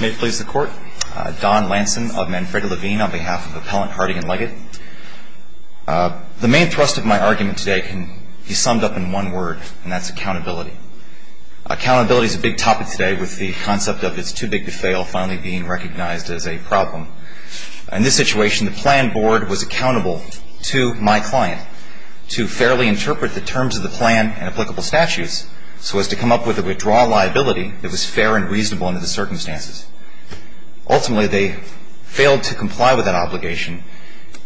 May it please the Court, Don Lanson of Manfreda Levine on behalf of Appellant Harding & Leggett. The main thrust of my argument today can be summed up in one word, and that's accountability. Accountability is a big topic today with the concept of it's too big to fail finally being recognized as a problem. In this situation, the plan board was accountable to my client to fairly interpret the terms of the plan and applicable statutes so as to come up with a withdrawal liability that was fair and reasonable under the circumstances. Ultimately, they failed to comply with that obligation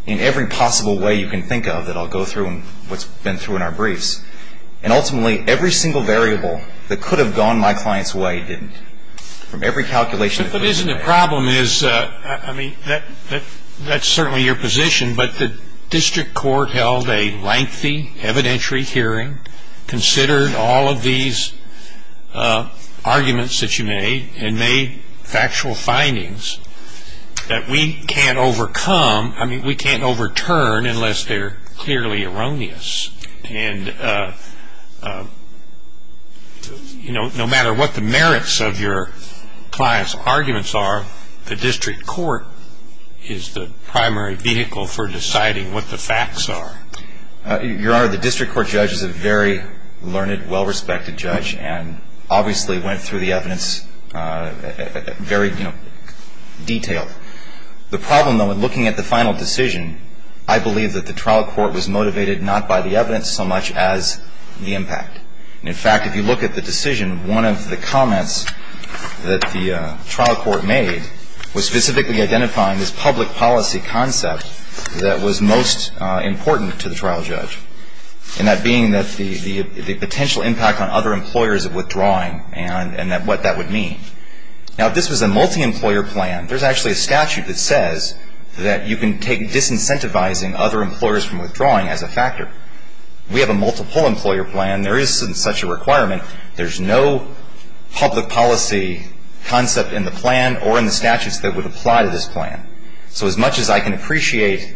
in every possible way you can think of that I'll go through and what's been through in our briefs. And ultimately, every single variable that could have gone my client's way didn't. From every calculation that could have been made. But isn't the problem is, I mean, that's certainly your position, but the district court held a lengthy evidentiary hearing, considered all of these arguments that you made, and made factual findings that we can't overcome, I mean, we can't overturn unless they're clearly erroneous. And no matter what the merits of your client's arguments are, the district court is the primary vehicle for deciding what the facts are. Your Honor, the district court judge is a very learned, well-respected judge, and obviously went through the evidence very, you know, detailed. The problem, though, in looking at the final decision, I believe that the trial court was motivated not by the evidence so much as the impact. And in fact, if you look at the decision, one of the comments that the trial court made was specifically identifying this public policy concept that was most important to the trial judge. And that being that the potential impact on other employers of withdrawing and what that would mean. Now, if this was a multi-employer plan, there's actually a statute that says that you can take disincentivizing other employers from withdrawing as a factor. We have a multiple employer plan. There isn't such a requirement. There's no public policy concept in the plan or in the statutes that would apply to this plan. So as much as I can appreciate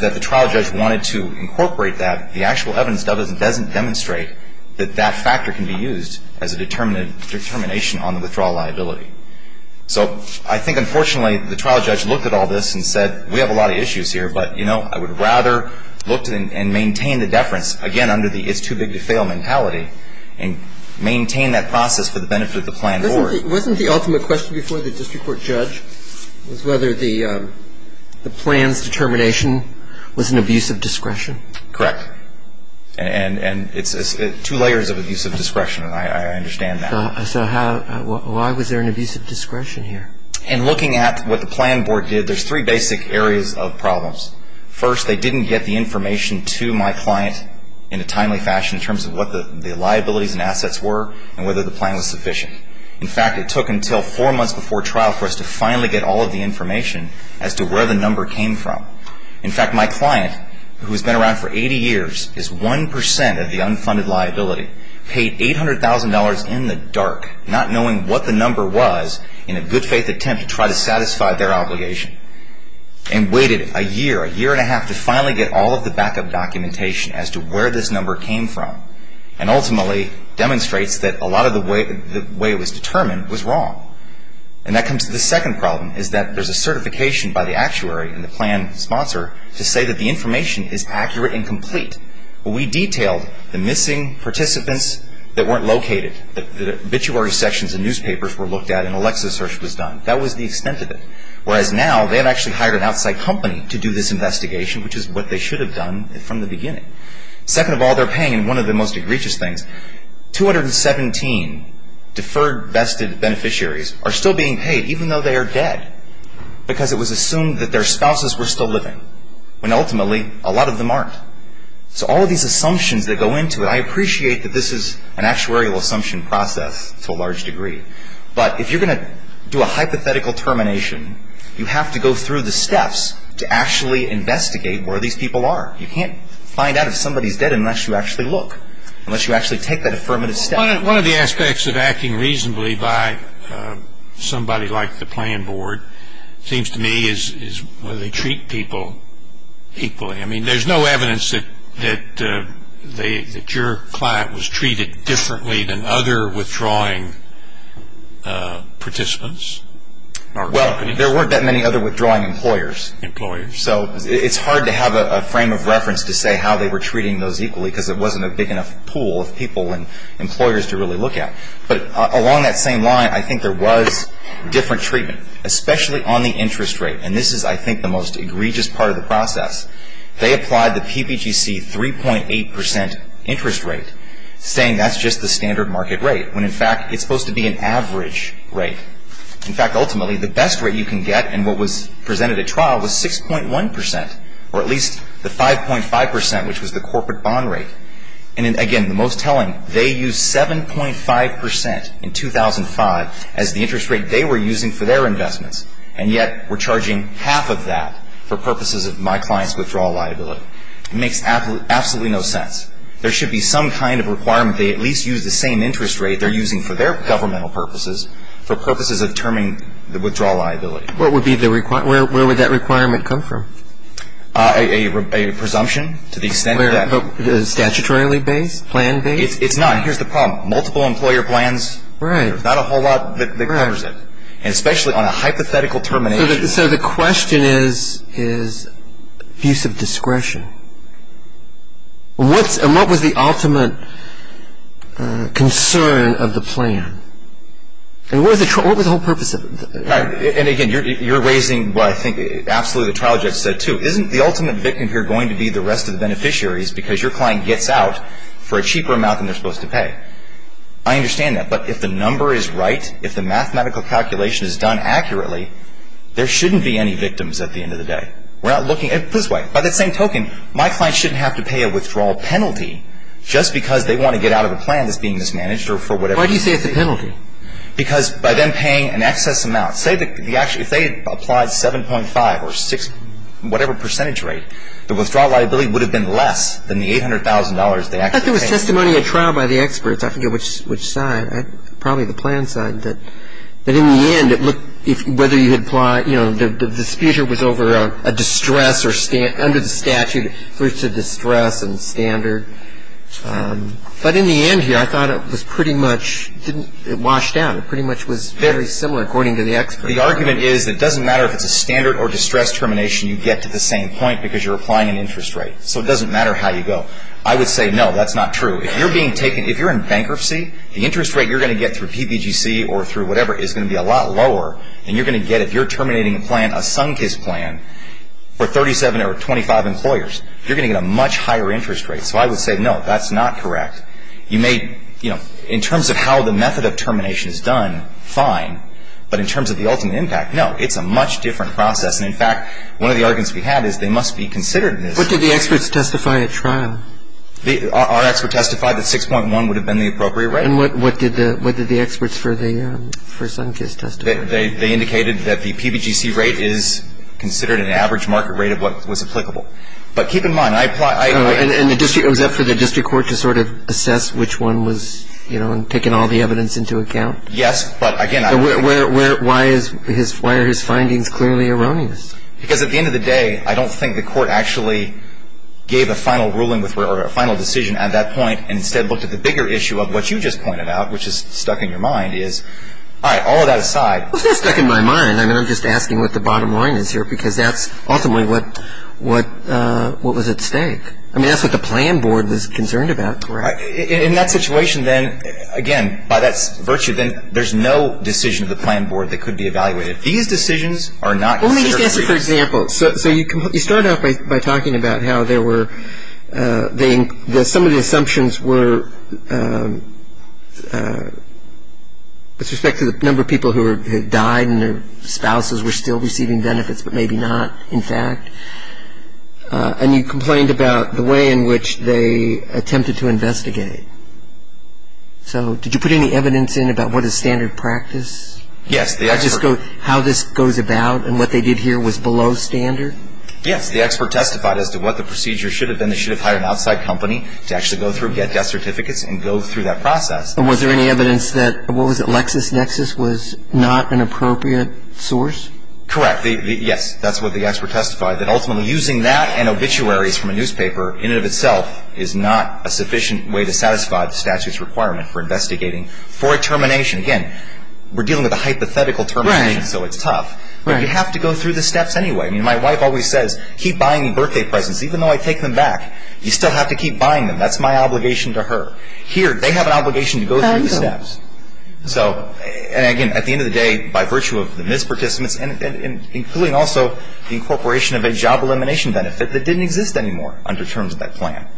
that the trial judge wanted to incorporate that, the actual evidence doesn't demonstrate that that factor can be used as a determination on the withdrawal liability. So I think, unfortunately, the trial judge looked at all this and said, we have a lot of issues here, but I would rather look and maintain the deference, again, under the it's too big to fail mentality and maintain that process for the benefit of the plan board. Wasn't the ultimate question before the district court judge was whether the plan's determination was an abuse of discretion? Correct. And it's two layers of abuse of discretion, and I understand that. So why was there an abuse of discretion here? In looking at what the plan board did, there's three basic areas of problems. First, they didn't get the information to my client in a timely fashion in terms of what the liabilities and assets were and whether the plan was sufficient. In fact, it took until four months before trial for us to finally get all of the information as to where the number came from. In fact, my client, who has been around for 80 years, is 1% of the unfunded liability, paid $800,000 in the dark not knowing what the number was in a good faith attempt to try to satisfy their obligation and waited a year, a year and a half, to finally get all of the backup documentation as to where this number came from and ultimately demonstrates that a lot of the way it was determined was wrong. And that comes to the second problem, is that there's a certification by the actuary and the plan sponsor to say that the information is accurate and complete. We detailed the missing participants that weren't located. The obituary sections in newspapers were looked at and Alexa search was done. That was the extent of it. Whereas now, they have actually hired an outside company to do this investigation, which is what they should have done from the beginning. Second of all, they're paying, and one of the most egregious things, 217 deferred vested beneficiaries are still being paid even though they are dead because it was assumed that their spouses were still living when ultimately a lot of them aren't. So all of these assumptions that go into it, I appreciate that this is an actuarial assumption process to a large degree. But if you're going to do a hypothetical termination, you have to go through the steps to actually investigate where these people are. You can't find out if somebody's dead unless you actually look, unless you actually take that affirmative step. One of the aspects of acting reasonably by somebody like the plan board seems to me is whether they treat people equally. I mean, there's no evidence that your client was treated differently than other withdrawing participants. Well, there weren't that many other withdrawing employers. Employers. So it's hard to have a frame of reference to say how they were treating those equally because it wasn't a big enough pool of people and employers to really look at. But along that same line, I think there was different treatment, especially on the interest rate. And this is, I think, the most egregious part of the process. They applied the PPGC 3.8% interest rate, saying that's just the standard market rate, when in fact it's supposed to be an average rate. In fact, ultimately, the best rate you can get in what was presented at trial was 6.1%, or at least the 5.5%, which was the corporate bond rate. And again, the most telling, they used 7.5% in 2005 as the interest rate they were using for their investments. And yet we're charging half of that for purposes of my client's withdrawal liability. It makes absolutely no sense. There should be some kind of requirement they at least use the same interest rate they're using for their governmental purposes for purposes of determining the withdrawal liability. What would be the requirement? Where would that requirement come from? A presumption to the extent that. Statutorily based? Plan based? It's not. Here's the problem. Multiple employer plans. Right. There's not a whole lot that covers it. And especially on a hypothetical termination. So the question is abuse of discretion. And what was the ultimate concern of the plan? And what was the whole purpose of it? And again, you're raising what I think absolutely the trial judge said too. Isn't the ultimate victim here going to be the rest of the beneficiaries because your client gets out for a cheaper amount than they're supposed to pay? I understand that. But if the number is right, if the mathematical calculation is done accurately, there shouldn't be any victims at the end of the day. We're not looking at this way. By that same token, my client shouldn't have to pay a withdrawal penalty just because they want to get out of a plan that's being mismanaged or for whatever reason. Why do you say it's a penalty? Because by them paying an excess amount. Say if they applied 7.5 or 6, whatever percentage rate, the withdrawal liability would have been less than the $800,000 they actually paid. I thought there was testimony at trial by the experts. I forget which side. Probably the plan side. But in the end, it looked whether you had applied, you know, the dispute was over a distress or under the statute it was a distress and standard. But in the end here, I thought it was pretty much didn't wash down. It pretty much was fairly similar according to the experts. The argument is it doesn't matter if it's a standard or distress termination. You get to the same point because you're applying an interest rate. So it doesn't matter how you go. I would say, no, that's not true. If you're being taken, if you're in bankruptcy, the interest rate you're going to get through PPGC or through whatever is going to be a lot lower than you're going to get if you're terminating a plan, a Sunkist plan, for 37 or 25 employers. You're going to get a much higher interest rate. So I would say, no, that's not correct. You may, you know, in terms of how the method of termination is done, fine. But in terms of the ultimate impact, no, it's a much different process. And, in fact, one of the arguments we had is they must be considered. And if it's a standard or distress termination, And if it's a standard or distress termination, it's not going to be a higher interest rate. This is a common argument. It's a common argument. But it is. What did the experts testify at trial? Our experts testified that 6.1 would have been the appropriate rate. What did the experts for the Sunkist test? They indicated that the PPGC rate is considered an average market rate of what was applicable. But keep in mind, I apply And was that for the district court to sort of assess which one was, you know, taking all the evidence into account? Yes, but again Why are his findings clearly erroneous? Because at the end of the day, I don't think the court actually gave a final ruling or a final decision at that point and instead looked at the bigger issue of what you just pointed out, which is stuck in your mind, is All right, all of that aside It's not stuck in my mind. I mean, I'm just asking what the bottom line is here because that's ultimately what was at stake. I mean, that's what the plan board was concerned about. Correct. In that situation, then, again, by that virtue, then there's no decision of the plan board that could be evaluated. These decisions are not considered Well, let me just answer for example. So you start off by talking about how there were some of the assumptions were with respect to the number of people who had died and their spouses were still receiving benefits, but maybe not, in fact. And you complained about the way in which they attempted to investigate. So did you put any evidence in about what is standard practice? Yes, the expert How this goes about and what they did here was below standard? Yes, the expert testified as to what the procedure should have been. They should have hired an outside company to actually go through, get death certificates, and go through that process. And was there any evidence that And what was it, LexisNexis was not an appropriate source? Correct. Yes, that's what the expert testified, that ultimately using that and obituaries from a newspaper in and of itself is not a sufficient way to satisfy the statute's requirement for investigating for a termination. Again, we're dealing with a hypothetical termination, so it's tough. But you have to go through the steps anyway. I mean, my wife always says, keep buying me birthday presents even though I take them back. You still have to keep buying them. That's my obligation to her. Here, they have an obligation to go through the steps. So, and again, at the end of the day, by virtue of the misparticipants and including also the incorporation of a job elimination benefit that didn't exist anymore under terms of that plan.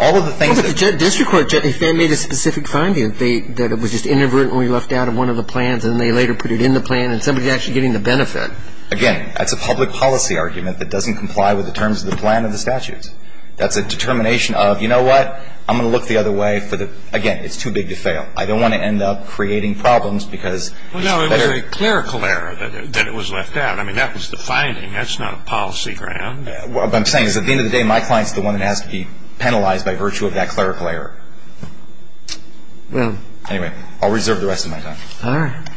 All of the things that But the district court made a specific finding that it was just inadvertently left out of one of the plans and then they later put it in the plan and somebody's actually getting the benefit. Again, that's a public policy argument that doesn't comply with the terms of the plan and the statutes. That's a determination of, you know what, I'm going to look the other way for the, again, it's too big to fail. I don't want to end up creating problems because Well, no, it was a clerical error that it was left out. I mean, that was the finding. That's not a policy ground. What I'm saying is at the end of the day, my client's the one that has to be penalized by virtue of that clerical error. Anyway, I'll reserve the rest of my time. All right.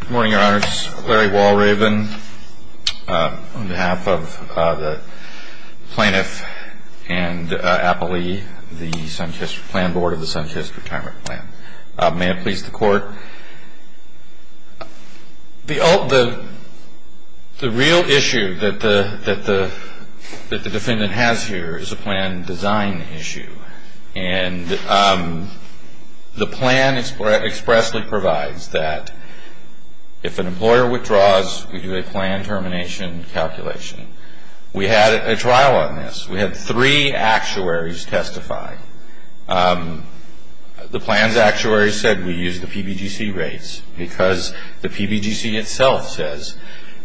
Good morning, Your Honors. Larry Walraven on behalf of the Plaintiff and Appalee, the Planned Board of the Son's History Retirement Plan. May it please the Court. The real issue that the defendant has here is a plan design issue. And the plan expressly provides that if an employer withdraws, we do a plan termination calculation. We had a trial on this. We had three actuaries testify. The plan's actuaries said we use the PBGC rates because the PBGC itself says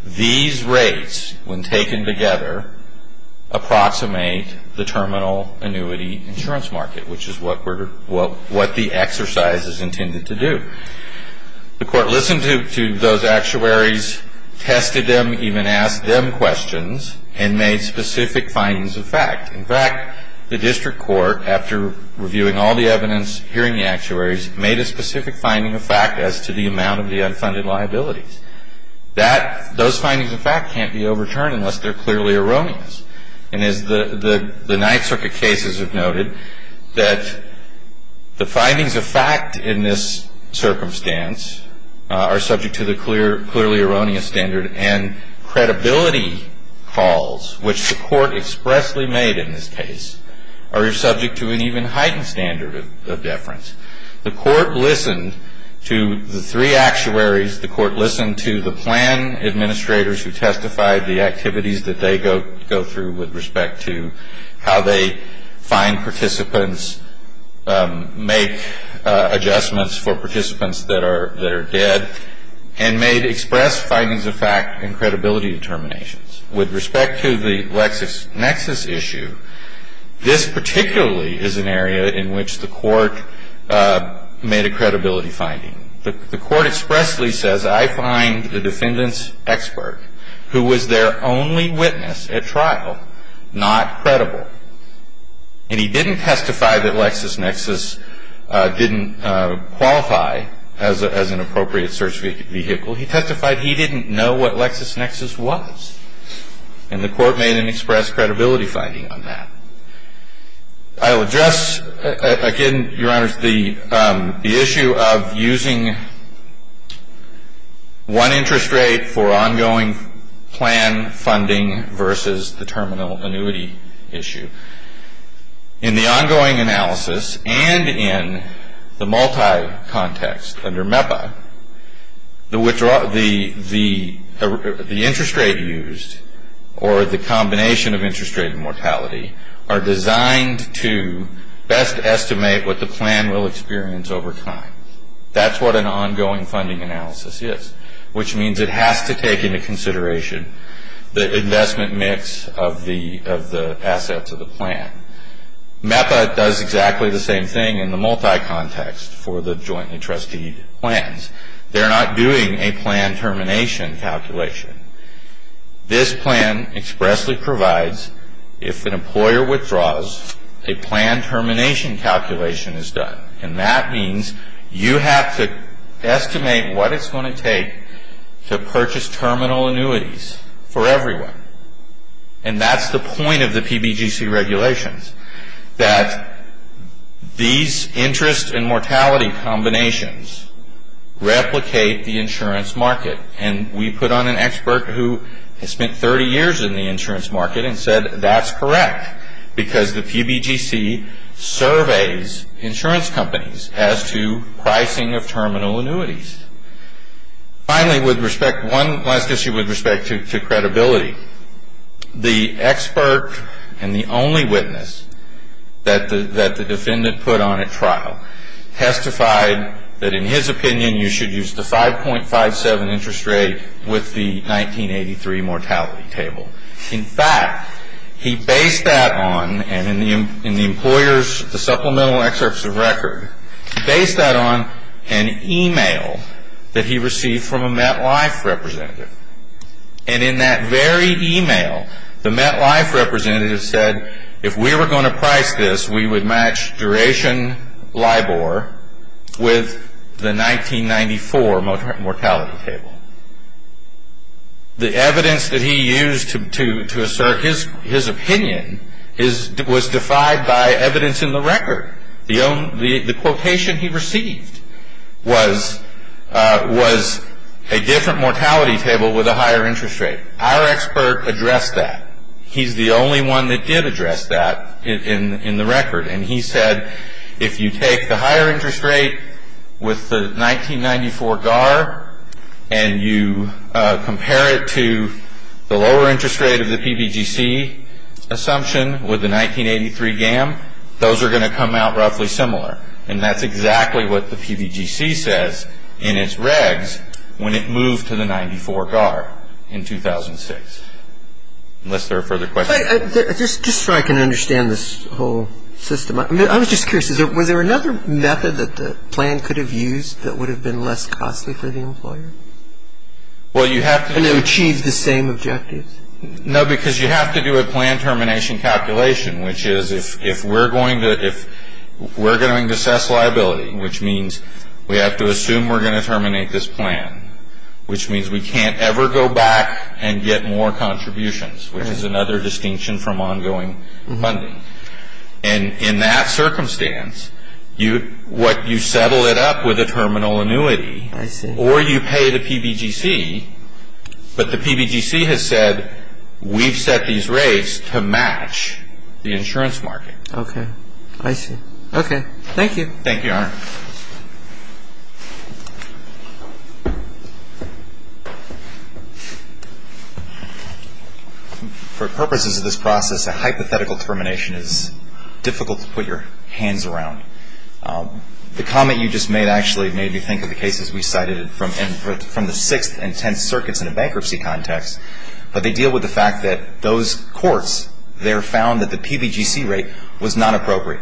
these rates, when taken together, approximate the terminal annuity insurance market, which is what the exercise is intended to do. The Court listened to those actuaries, tested them, even asked them questions, and made specific findings of fact. In fact, the district court, after reviewing all the evidence, hearing the actuaries, made a specific finding of fact as to the amount of the unfunded liabilities. Those findings of fact can't be overturned unless they're clearly erroneous. And as the Ninth Circuit cases have noted, that the findings of fact in this circumstance are subject to the clearly erroneous standard, and credibility calls, which the Court expressly made in this case, the Court listened to the three actuaries. The Court listened to the plan administrators who testified, the activities that they go through with respect to how they find participants, make adjustments for participants that are dead, and made express findings of fact and credibility determinations. With respect to the LexisNexis issue, this particularly is an area in which the Court made a credibility finding. The Court expressly says, I find the defendant's expert, who was their only witness at trial, not credible. And he didn't testify that LexisNexis didn't qualify as an appropriate search vehicle. He testified he didn't know what LexisNexis was. And the Court made an express credibility finding on that. I will address, again, Your Honors, the issue of using one interest rate for ongoing plan funding versus the terminal annuity issue. In the ongoing analysis and in the multi-context under MEPA, the interest rate used or the combination of interest rate and mortality are designed to best estimate what the plan will experience over time. That's what an ongoing funding analysis is, which means it has to take into consideration the investment mix of the assets of the plan. MEPA does exactly the same thing in the multi-context for the joint and trustee plans. They're not doing a plan termination calculation. This plan expressly provides, if an employer withdraws, a plan termination calculation is done. And that means you have to estimate what it's going to take to purchase terminal annuities for everyone. And that's the point of the PBGC regulations, that these interest and mortality combinations replicate the insurance market. And we put on an expert who spent 30 years in the insurance market and said that's correct because the PBGC surveys insurance companies as to pricing of terminal annuities. Finally, with respect to one last issue with respect to credibility, the expert and the only witness that the defendant put on at trial testified that, in his opinion, you should use the 5.57 interest rate with the 1983 mortality table. In fact, he based that on, and in the employer's supplemental excerpts of record, he based that on an email that he received from a MetLife representative. And in that very email, the MetLife representative said, if we were going to price this, we would match duration LIBOR with the 1994 mortality table. The evidence that he used to assert his opinion was defied by evidence in the record. The quotation he received was a different mortality table with a higher interest rate. Our expert addressed that. He's the only one that did address that in the record. And he said, if you take the higher interest rate with the 1994 GAR and you compare it to the lower interest rate of the PBGC assumption with the 1983 GAM, those are going to come out roughly similar. And that's exactly what the PBGC says in its regs when it moved to the 94 GAR in 2006, unless there are further questions. Just so I can understand this whole system, I was just curious, was there another method that the plan could have used that would have been less costly for the employer? Well, you have to do it. And it would achieve the same objectives? No, because you have to do a plan termination calculation, which is if we're going to assess liability, which means we have to assume we're going to terminate this plan, which means we can't ever go back and get more contributions, which is another distinction from ongoing funding. And in that circumstance, what you settle it up with a terminal annuity or you pay the PBGC, but the PBGC has said we've set these rates to match the insurance market. Okay. I see. Thank you. Thank you, Your Honor. For purposes of this process, a hypothetical termination is difficult to put your hands around. The comment you just made actually made me think of the cases we cited from the Sixth and Tenth Circuits in a bankruptcy context, but they deal with the fact that those courts there found that the PBGC rate was not appropriate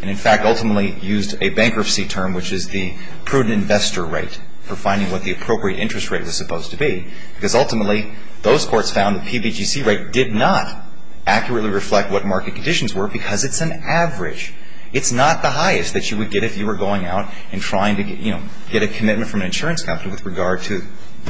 and in fact ultimately used a bankruptcy term, which is the prudent investor rate, for finding what the appropriate interest rate was supposed to be, because ultimately those courts found the PBGC rate did not accurately reflect what market conditions were because it's an average. It's not the highest that you would get if you were going out and trying to, you know, get a commitment from an insurance company with regard to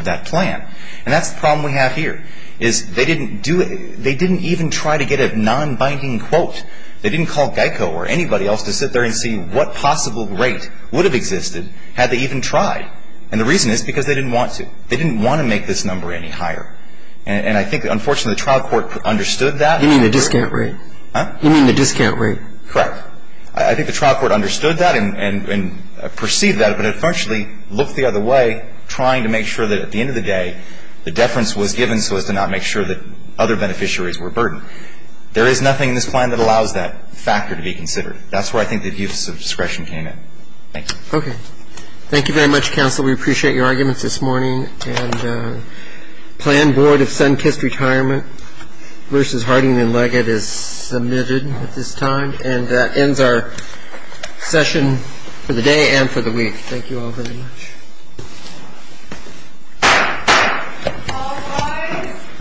that plan. And that's the problem we have here, is they didn't do it. They didn't even try to get a non-binding quote. They didn't call GEICO or anybody else to sit there and see what possible rate would have existed had they even tried. And the reason is because they didn't want to. They didn't want to make this number any higher. And I think, unfortunately, the trial court understood that. You mean the discount rate? Huh? You mean the discount rate? Correct. I think the trial court understood that and perceived that, but it unfortunately looked the other way, trying to make sure that at the end of the day, the deference was given so as to not make sure that other beneficiaries were burdened. There is nothing in this plan that allows that factor to be considered. That's where I think the abuse of discretion came in. Thank you. Okay. Thank you very much, counsel. We appreciate your arguments this morning. And plan board of Sunkist Retirement versus Harding and Leggett is submitted at this time. And that ends our session for the day and for the week. Thank you all very much. All rise.